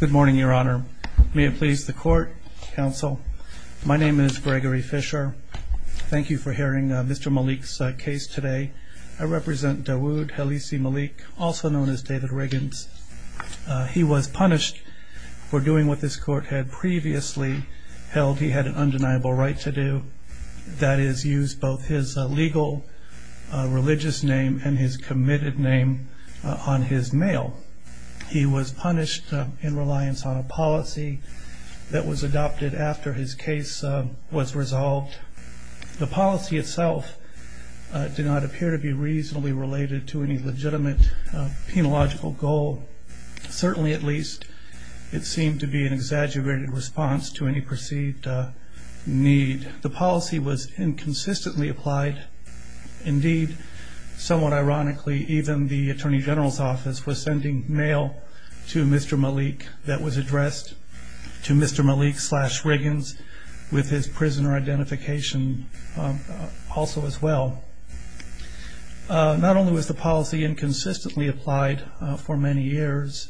Good morning, Your Honor. May it please the Court, Counsel. My name is Gregory Fisher. Thank you for hearing Mr. Malik's case today. I represent Dawud Halisi Malik, also known as David Riggins. He was punished for doing what this Court had previously held he had an undeniable right to do, that is, use both his legal religious name and his committed name on his mail. He was punished in reliance on a policy that was adopted after his case was resolved. The policy itself did not appear to be reasonably related to any legitimate penological goal. Certainly, at least, it seemed to be an exaggerated response to any Attorney General's office was sending mail to Mr. Malik that was addressed to Mr. Malik slash Riggins with his prisoner identification also as well. Not only was the policy inconsistently applied for many years,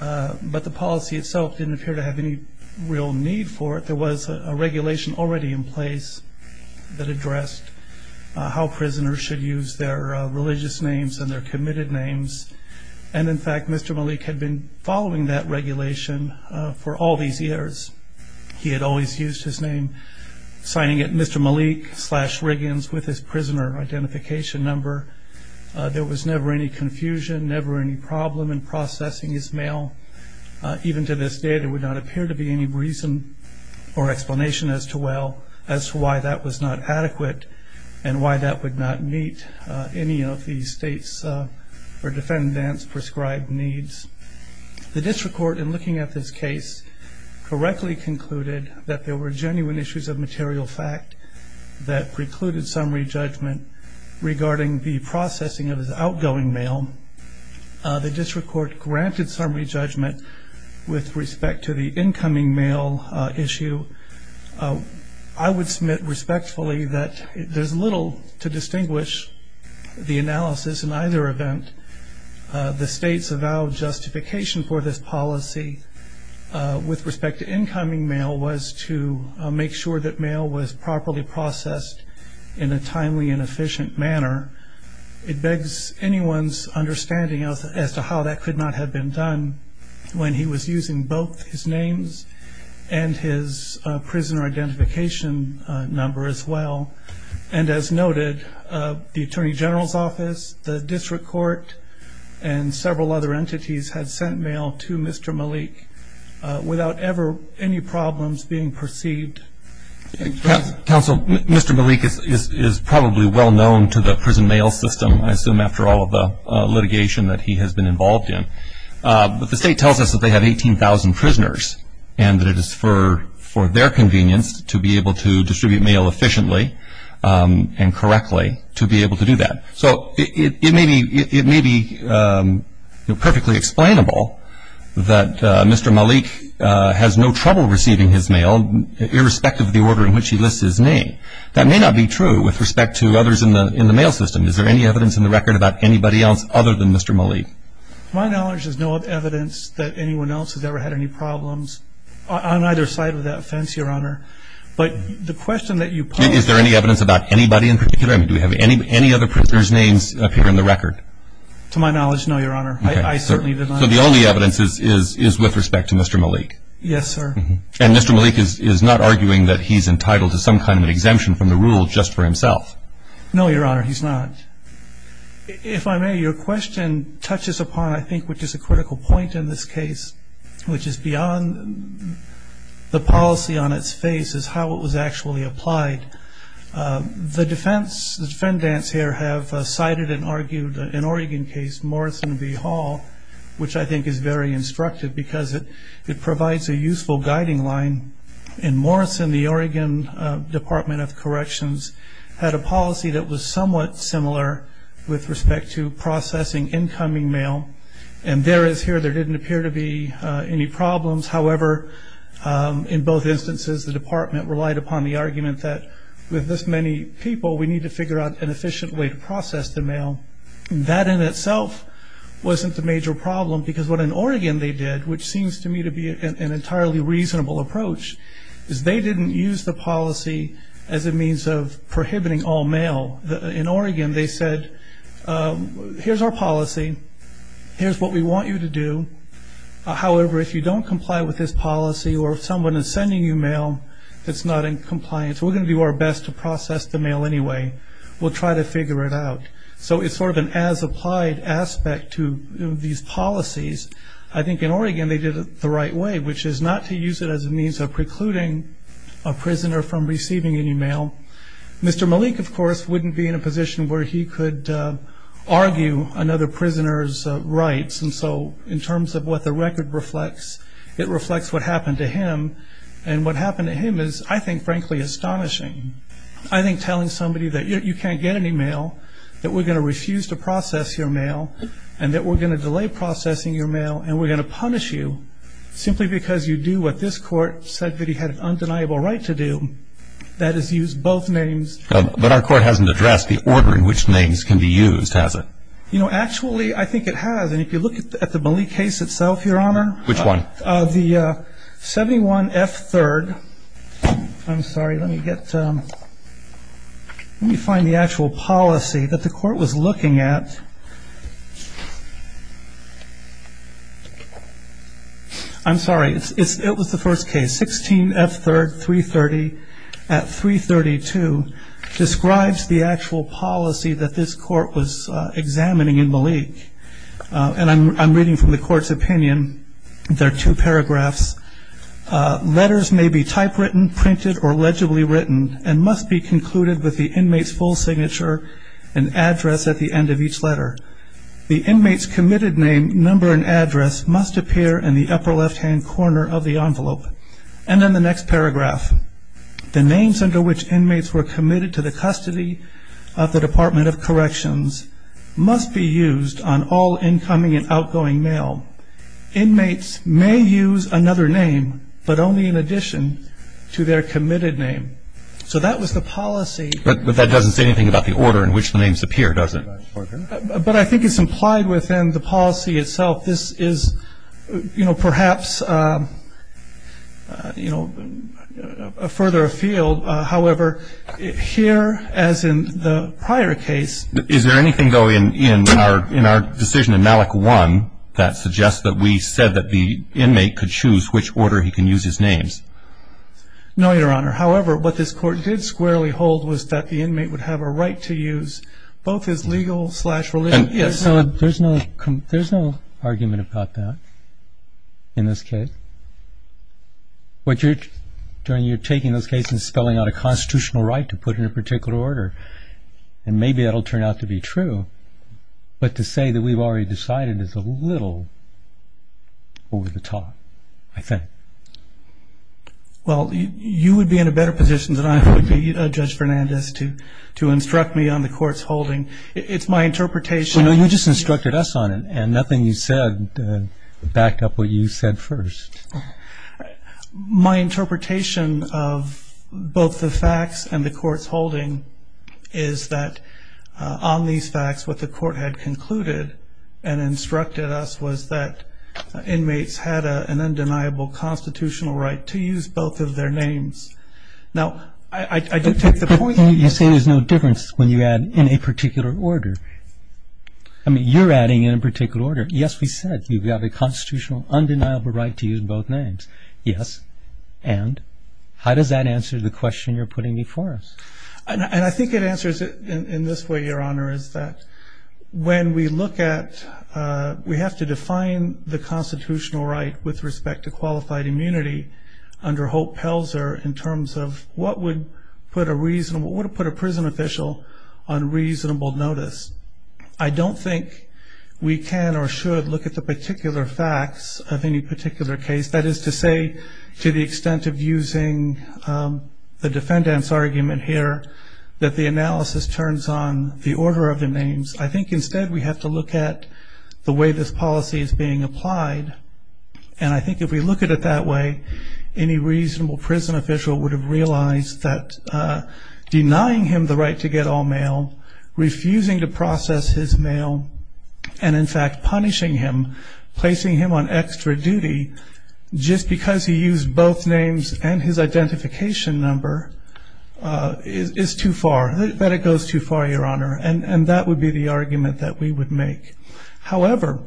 but the policy itself didn't appear to have any real need for it. There was a regulation already in place that addressed how prisoners should use their religious names and their committed names. In fact, Mr. Malik had been following that regulation for all these years. He had always used his name, signing it Mr. Malik slash Riggins with his prisoner identification number. There was never any confusion, never any problem in processing his mail. Even to this day, there would not appear to be any reason or explanation as to why that was not adequate and why that would not meet any of these state's or defendant's prescribed needs. The district court, in looking at this case, correctly concluded that there were genuine issues of material fact that precluded summary judgment regarding the processing of his outgoing mail. The district court granted summary judgment with respect to the incoming mail issue. I would submit respectfully that there's little to distinguish the analysis in either event. The state's avowed justification for this policy with respect to incoming mail was to make sure that mail was properly processed in a timely and efficient manner. It begs anyone's understanding as to how that could not have been done when he was using both his names and his prisoner identification number as well. As noted, the Attorney General's office, the district court, and several other entities had sent mail to Mr. Malik without ever any problems being perceived. Counsel, Mr. Malik is probably well known to the prison mail system, I assume after all of the litigation that he has been involved in. The state tells us that they have 18,000 prisoners and that it is for their convenience to be able to distribute mail efficiently and correctly to be able to do that. So it may be perfectly explainable that Mr. Malik has no trouble receiving his mail irrespective of the order in which he lists his name. That may not be true with respect to others in the mail system. Is there any evidence in the record about anybody else other than Mr. Malik? To my knowledge, there is no evidence that anyone else has ever had any problems on either side of that fence, Your Honor. But the question that you posed... Is there any evidence about anybody in particular? Do we have any other prisoner's names appear in the record? To my knowledge, no, Your Honor. I certainly did not... So the only evidence is with respect to Mr. Malik? Yes, sir. And Mr. Malik is not arguing that he is entitled to some kind of exemption from the rule just for himself? No, Your Honor, he's not. If I may, your question touches upon, I think, what is a critical point in this case, which is beyond the policy on its face, is how it was actually applied. The defendants here have cited and argued an Oregon case, Morrison v. Hall, which I think is very instructive because it provides a useful guiding line. In Morrison, the Oregon Department of Corrections had a policy that was somewhat similar with respect to processing incoming mail. And there is here, there didn't appear to be any problems. However, in both instances, the department relied upon the argument that with this many people, we need to figure out an efficient way to process the mail. That in itself wasn't the major problem because what in Oregon they did, which seems to me to be an entirely reasonable approach, is they didn't use the policy as a means of prohibiting all mail. In Oregon, they said, here's our policy. Here's what we want you to do. However, if you don't comply with this policy or if someone is sending you mail that's not in compliance, we're going to do our best to process the mail anyway. We'll try to figure it out. So it's sort of an as-applied aspect to these policies. I think in Oregon, they did it the right way, which is not to use it as a means of precluding a prisoner from receiving any mail. Mr. Malik, of course, wouldn't be in a position where he could argue another prisoner's rights. And so in terms of what the record reflects, it reflects what happened to him. And what happened to him is I think, frankly, astonishing. I think telling somebody that you can't get any mail, that we're going to refuse to process your mail, and that we're going to delay processing your mail, and we're going to punish you simply because you do what this court said that he had an undeniable right to do, that is use both names. But our court hasn't addressed the order in which names can be used, has it? You know, actually, I think it has. And if you look at the Malik case itself, Your Honor. Which one? The 71F3rd. I'm sorry, let me get, let me find the actual policy that the court was examining. I'm sorry, it was the first case. 16F3rd 330 at 332 describes the actual policy that this court was examining in Malik. And I'm reading from the court's opinion. There are two paragraphs. Letters may be typewritten, printed, or legibly written, and must be concluded with the inmate's full signature and address at the end of each letter. The inmate's committed name, number, and address must appear in the upper left-hand corner of the envelope. And then the next paragraph. The names under which inmates were committed to the custody of the Department of Corrections must be used on all incoming and outgoing mail. Inmates may use another name, but only in addition to their committed name. So that was the policy. But that doesn't say anything about the order in which the names appear, does it? But I think it's implied within the policy itself. This is, you know, perhaps, you know, further afield. However, here, as in the prior case. Is there anything, though, in our decision in Malik 1 that suggests that we said that the inmate could choose which order he can use his names? No, Your Honor. However, what this court did squarely hold was that the inmate would have a right to use both his legal-slash-religion- Yes. There's no argument about that in this case. What you're taking in this case is spelling out a constitutional right to put in a particular order. And maybe that'll turn out to be true. But to say that we've already decided is a little over the top, I think. Well, you would be in a better position than I would be, Judge Fernandez, to instruct me on the court's holding. It's my interpretation- No, you just instructed us on it. And nothing you said backed up what you said first. My interpretation of both the facts and the court's holding is that on these facts, what the court had concluded and instructed us was that inmates had an undeniable constitutional right to use both of their names. Now, I don't take the point- But you say there's no difference when you add in a particular order. I mean, you're adding in a particular order. Yes, we said you have a constitutional undeniable right to use both names. Yes. And? How does that answer the question you're putting before us? And I think it answers it in this way, Your Honor, is that when we look at- we have to define the constitutional right with respect to qualified immunity under Hope Pelzer in terms of what would put a prison official on reasonable notice. I don't think we can or should look at the particular facts of any particular case. That is to say, to the analysis turns on the order of the names. I think instead we have to look at the way this policy is being applied. And I think if we look at it that way, any reasonable prison official would have realized that denying him the right to get all mail, refusing to process his mail, and in fact punishing him, placing him on extra duty just because he is too far, that it goes too far, Your Honor. And that would be the argument that we would make. However,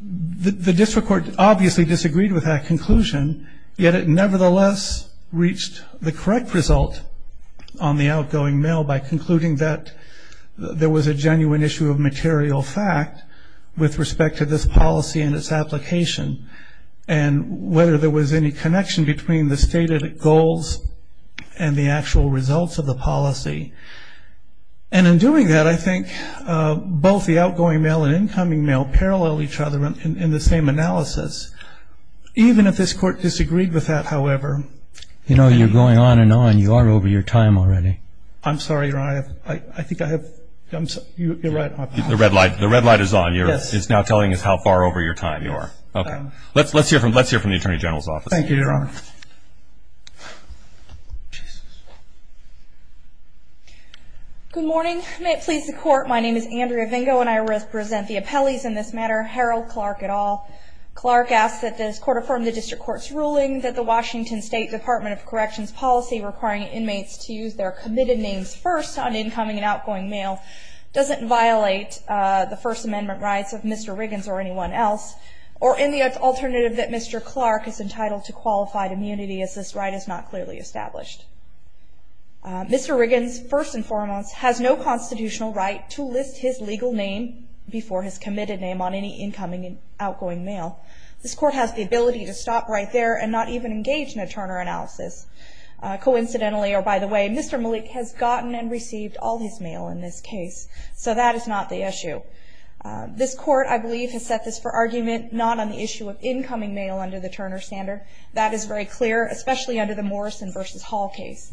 the district court obviously disagreed with that conclusion, yet it nevertheless reached the correct result on the outgoing mail by concluding that there was a genuine issue of material fact with respect to this policy and its application. And whether there was any connection between the stated goals and the actual results of the policy. And in doing that, I think both the outgoing mail and incoming mail parallel each other in the same analysis. Even if this court disagreed with that, however- You know, you're going on and on. You are over your time already. I'm sorry, Your Honor. I think I have- you're right. The red light is on. It's now telling us how far over your time you are. Okay. Let's hear from the Attorney General's office. Thank you, Your Honor. Good morning. May it please the court, my name is Andrea Vingo and I represent the appellees in this matter, Harold Clark et al. Clark asks that this court affirm the district court's ruling that the Washington State Department of Corrections policy requiring inmates to use their committed names first on incoming and outgoing mail doesn't violate the First Mr. Clark is entitled to qualified immunity as this right is not clearly established. Mr. Riggins, first and foremost, has no constitutional right to list his legal name before his committed name on any incoming and outgoing mail. This court has the ability to stop right there and not even engage in a Turner analysis. Coincidentally, or by the way, Mr. Malik has gotten and received all his mail in this case. So that is not the issue. This court, I believe, has set this for argument not on the issue of incoming mail under the Turner standard. That is very clear, especially under the Morrison v. Hall case.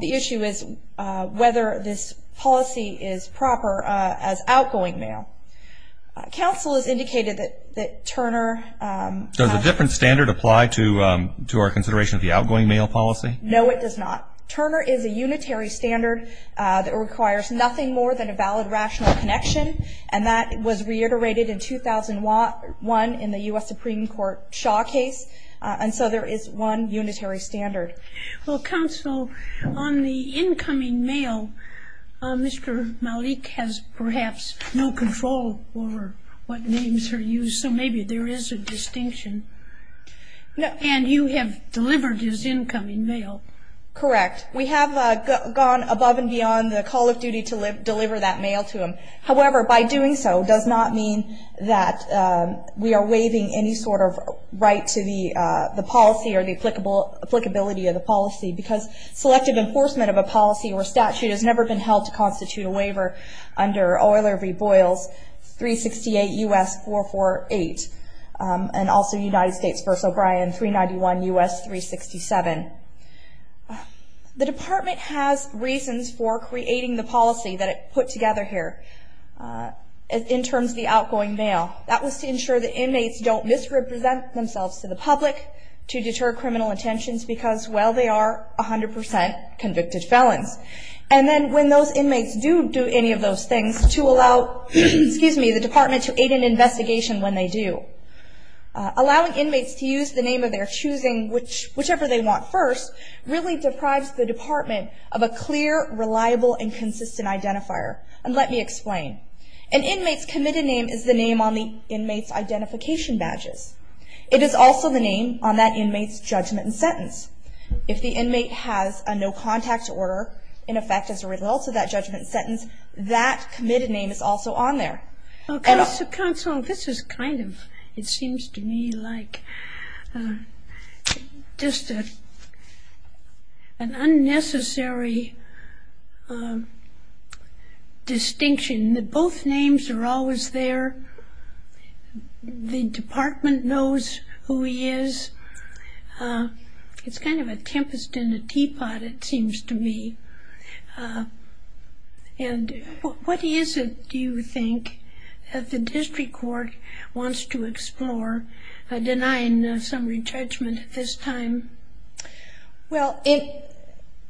The issue is whether this policy is proper as outgoing mail. Counsel has indicated that Turner has Does a different standard apply to our consideration of the outgoing mail policy? No, it does not. Turner is a unitary standard that requires nothing more than a valid rational connection. And that was reiterated in 2001 in the U.S. Supreme Court Shaw case. And so there is one unitary standard. Well, counsel, on the incoming mail, Mr. Malik has perhaps no control over what names are used. So maybe there is a distinction. And you have delivered his incoming mail. Correct. We have gone above and beyond the call of duty to deliver that mail to him. However, by doing so does not mean that we are waiving any sort of right to the policy or the applicability of the policy. Because selective enforcement of a policy or statute has never been held to constitute a waiver under Euler v. Boyles, 368 U.S. 448 and also United States v. O'Brien, 391 U.S. 367. The department has reasons for creating the policy that it put together here in terms of the outgoing mail. That was to ensure that inmates don't misrepresent themselves to the public, to deter criminal intentions because, well, they are 100 percent convicted felons. And then when those inmates do do any of those things to allow, excuse me, the department to aid in investigation when they do. Allowing inmates to use the name of their choosing, whichever they want first, really deprives the department of a clear, reliable and consistent identifier. And let me explain. An inmate's committed name is the name on the inmate's identification badges. It is also the name on that inmate's judgment and sentence. If the inmate has a no contact order, in effect as a result of that judgment and sentence, that committed name is also on there. Well, Counsel, this is kind of, it seems to me like, just an understatement. I mean, an unnecessary distinction that both names are always there. The department knows who he is. It's kind of a tempest in a teapot, it seems to me. And what is it, do you think, that the district court wants to explore, denying some retrenchment at this time? Well,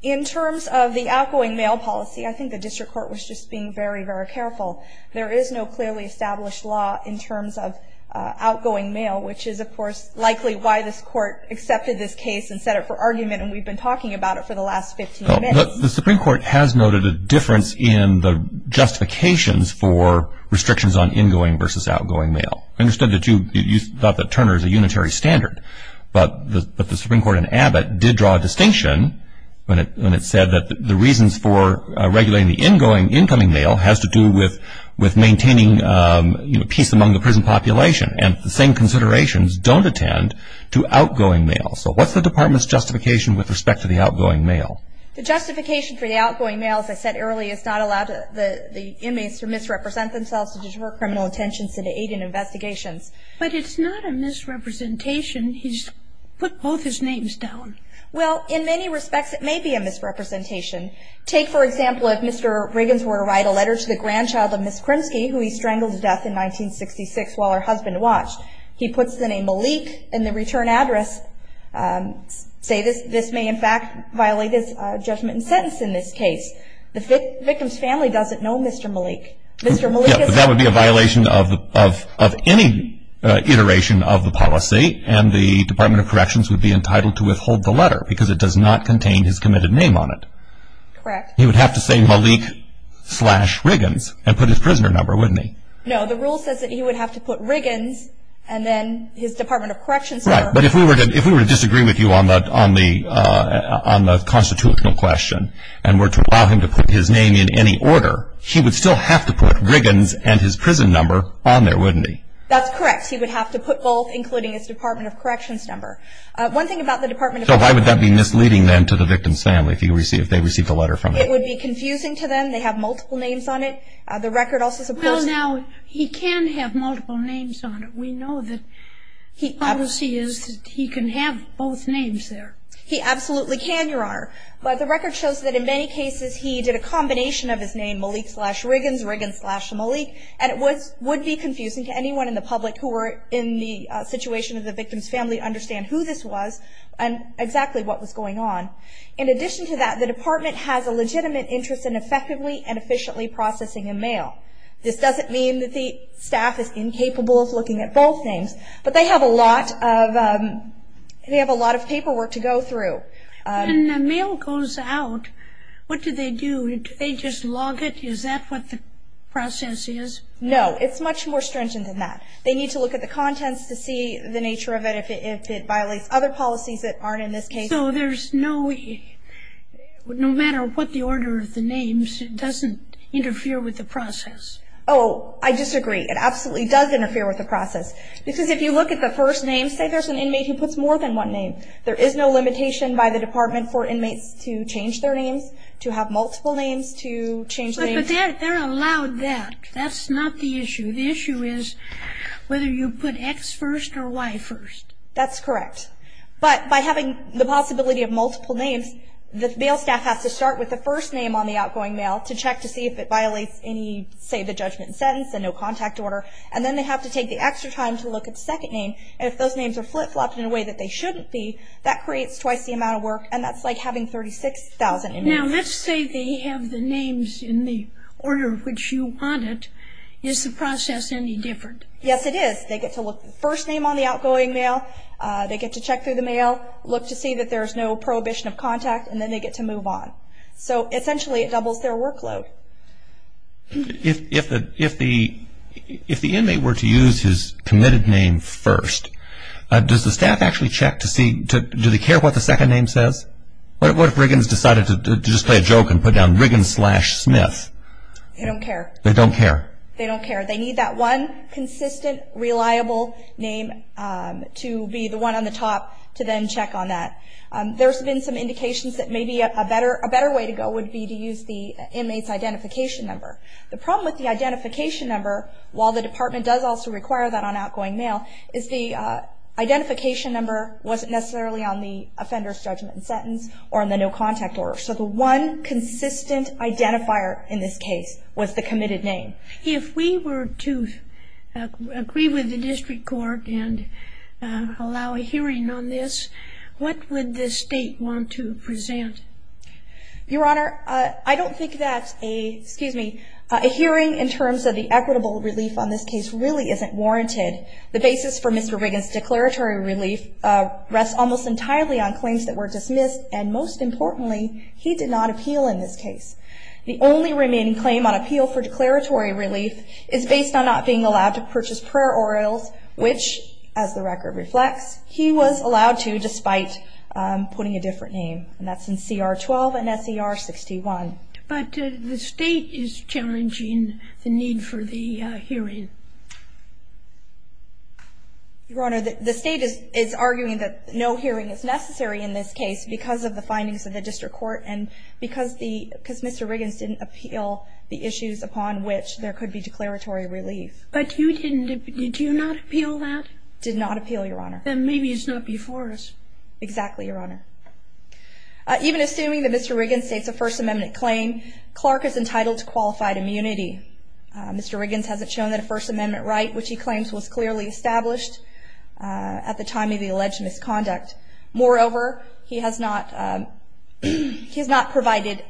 in terms of the outgoing mail policy, I think the district court was just being very, very careful. There is no clearly established law in terms of outgoing mail, which is, of course, likely why this court accepted this case and set it for argument. And we've been talking about it for the last 15 minutes. The Supreme Court has noted a difference in the justifications for restrictions on in-going versus outgoing mail. I understand that you thought that Turner is a unitary standard. But the Supreme Court in Abbott did draw a distinction when it said that the reasons for regulating the incoming mail has to do with maintaining peace among the prison population. And the same considerations don't attend to outgoing mail. So what's the department's justification with respect to the outgoing mail? The justification for the outgoing mail, as I said earlier, is not allowing the inmates to misrepresent themselves to deter criminal attention to the aid in investigations. But it's not a misrepresentation. He's put both his names down. Well, in many respects, it may be a misrepresentation. Take, for example, if Mr. Riggins were to write a letter to the grandchild of Ms. Kremsky, who he strangled to death in 1966 while her husband watched. He puts the name Malik in the return address, say this may in fact violate his judgment and sentence in this case. The victim's family doesn't know Mr. Malik. That would be a violation of any iteration of the policy and the Department of Corrections would be entitled to withhold the letter because it does not contain his committed name on it. He would have to say Malik slash Riggins and put his prisoner number, wouldn't he? No, the rule says that he would have to put Riggins and then his Department of Corrections number. But if we were to disagree with you on the constitutional question and were to allow him to put his name in any order, he would still have to put Riggins and his prison number on there, wouldn't he? That's correct. He would have to put both, including his Department of Corrections number. One thing about the Department of Corrections... So why would that be misleading then to the victim's family if they received a letter from him? It would be confusing to them. They have multiple names on it. The record also supports... Well, now, he can have multiple names on it. We know that he can have both names there. He absolutely can, Your Honor. But the record shows that in many cases he did a combination of his name, Malik slash Riggins, Riggins slash Malik, and it would be confusing to anyone in the public who were in the situation of the victim's family to understand who this was and exactly what was going on. In addition to that, the Department has a legitimate interest in effectively and efficiently processing a mail. This doesn't mean that the staff is incapable of looking at both names, but they have a lot of paperwork to go through. When the mail goes out, what do they do? Do they just log it? Is that what the process is? No. It's much more stringent than that. They need to look at the contents to see the nature of it, if it violates other policies that aren't in this case. So there's no way, no matter what the order of the names, it doesn't interfere with the process? Oh, I disagree. It absolutely does interfere with the process. Because if you look at the first name, say there's an inmate who puts more than one name, there is no limitation by the Department for inmates to change their names, to have multiple names, to change names. But they're allowed that. That's not the issue. The issue is whether you put X first or Y first. That's correct. But by having the possibility of multiple names, the mail staff has to start with the first name on the outgoing mail to check to see if it violates any, say the judgment and sentence and no contact order. And then they have to take the extra time to look at the second name. And if those names are flip-flopped in a way that they shouldn't be, that creates twice the amount of work. And that's like having 36,000 inmates. Now let's say they have the names in the order which you want it. Is the process any different? Yes, it is. They get to look at the first name on the outgoing mail. They get to check through the mail, look to see that there's no prohibition of contact, and then they get to move on. So essentially it doubles their workload. If the inmate were to use his committed name first, does the staff actually check to see do they care what the second name says? What if Riggins decided to just play a joke and put down Riggins slash Smith? They don't care. They don't care. They don't care. They need that one consistent, reliable name to be the one on the top to then check on that. There's been some indications that maybe a better way to go would be to use the inmate's identification number. The problem with the identification number, while the department does also require that on outgoing mail, is the identification number wasn't necessarily on the offender's judgment and sentence or on the no contact order. So the one consistent identifier in this case was the committed name. If we were to agree with the district court and allow a hearing on this, what would the state want to present? Your Honor, I don't think that a hearing in terms of the equitable relief on this case really isn't warranted. The basis for Mr. Riggins' declaratory relief rests almost entirely on claims that were dismissed, and most importantly, he did not appeal in this case. The only remaining claim on appeal for declaratory relief is based on not being allowed to purchase prayer orioles, which, as the record reflects, he was allowed to despite putting a different name, and that's in CR 12 and SCR 61. But the state is challenging the need for the hearing. Your Honor, the state is arguing that no hearing is necessary in this case because of the findings of the district court and because Mr. Riggins didn't appeal the issues upon which there could be declaratory relief. But you didn't. Did you not appeal that? Did not appeal, Your Honor. Then maybe it's not before us. Exactly, Your Honor. Even assuming that Mr. Riggins states a First Amendment claim, Clark is entitled to qualified immunity. Mr. Riggins hasn't shown that a First Amendment right, which he claims was clearly established at the time of the alleged misconduct. Moreover, he has not provided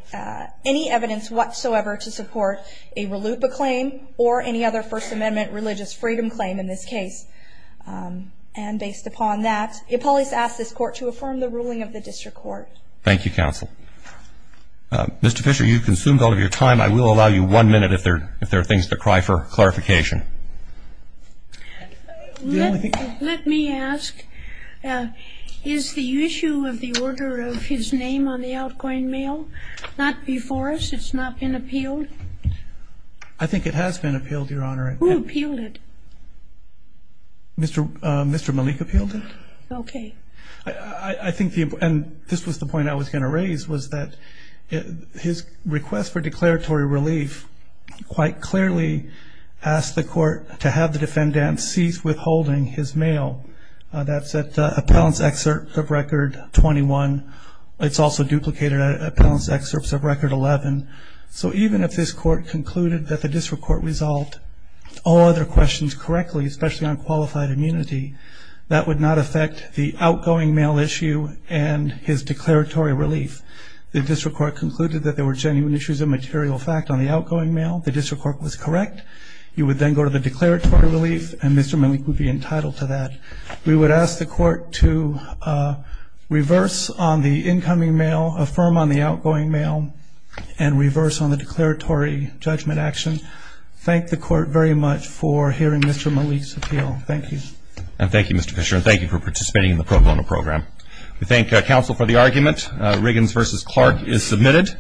any evidence whatsoever to support a RLUIPA claim or any other First Amendment religious freedom claim in this case. And based upon that, I police ask this Court to affirm the ruling of the district court. Thank you, counsel. Mr. Fisher, you've consumed all of your time. I will allow you one minute if there are things to cry for clarification. Let me ask, is the issue of the order of his name on the outgoing mail not before us? It's not been appealed? I think it has been appealed, Your Honor. Who appealed it? Mr. Malik appealed it. Okay. I think the point, and this was the point I was going to raise, was that his request for declaratory relief quite clearly asked the Court to have the defendant cease withholding his mail. That's at Appellant's Excerpt of Record 21. It's also duplicated at Appellant's Excerpt of Record 11. So even if this Court concluded that the district court resolved all other questions correctly, especially on qualified immunity, that would not affect the outgoing mail issue and his declaratory relief. The district court concluded that there were genuine issues of material fact on the outgoing mail. The district court was correct. You would then go to the declaratory relief, and Mr. Malik would be entitled to that. We would ask the Court to reverse on the incoming mail, affirm on the outgoing mail, and reverse on the declaratory judgment action. Thank the Court very much for hearing Mr. Malik's appeal. Thank you. And thank you, Mr. Fisher, and thank you for participating in the pro bono program. We thank counsel for the argument. Riggins v. Clark is submitted.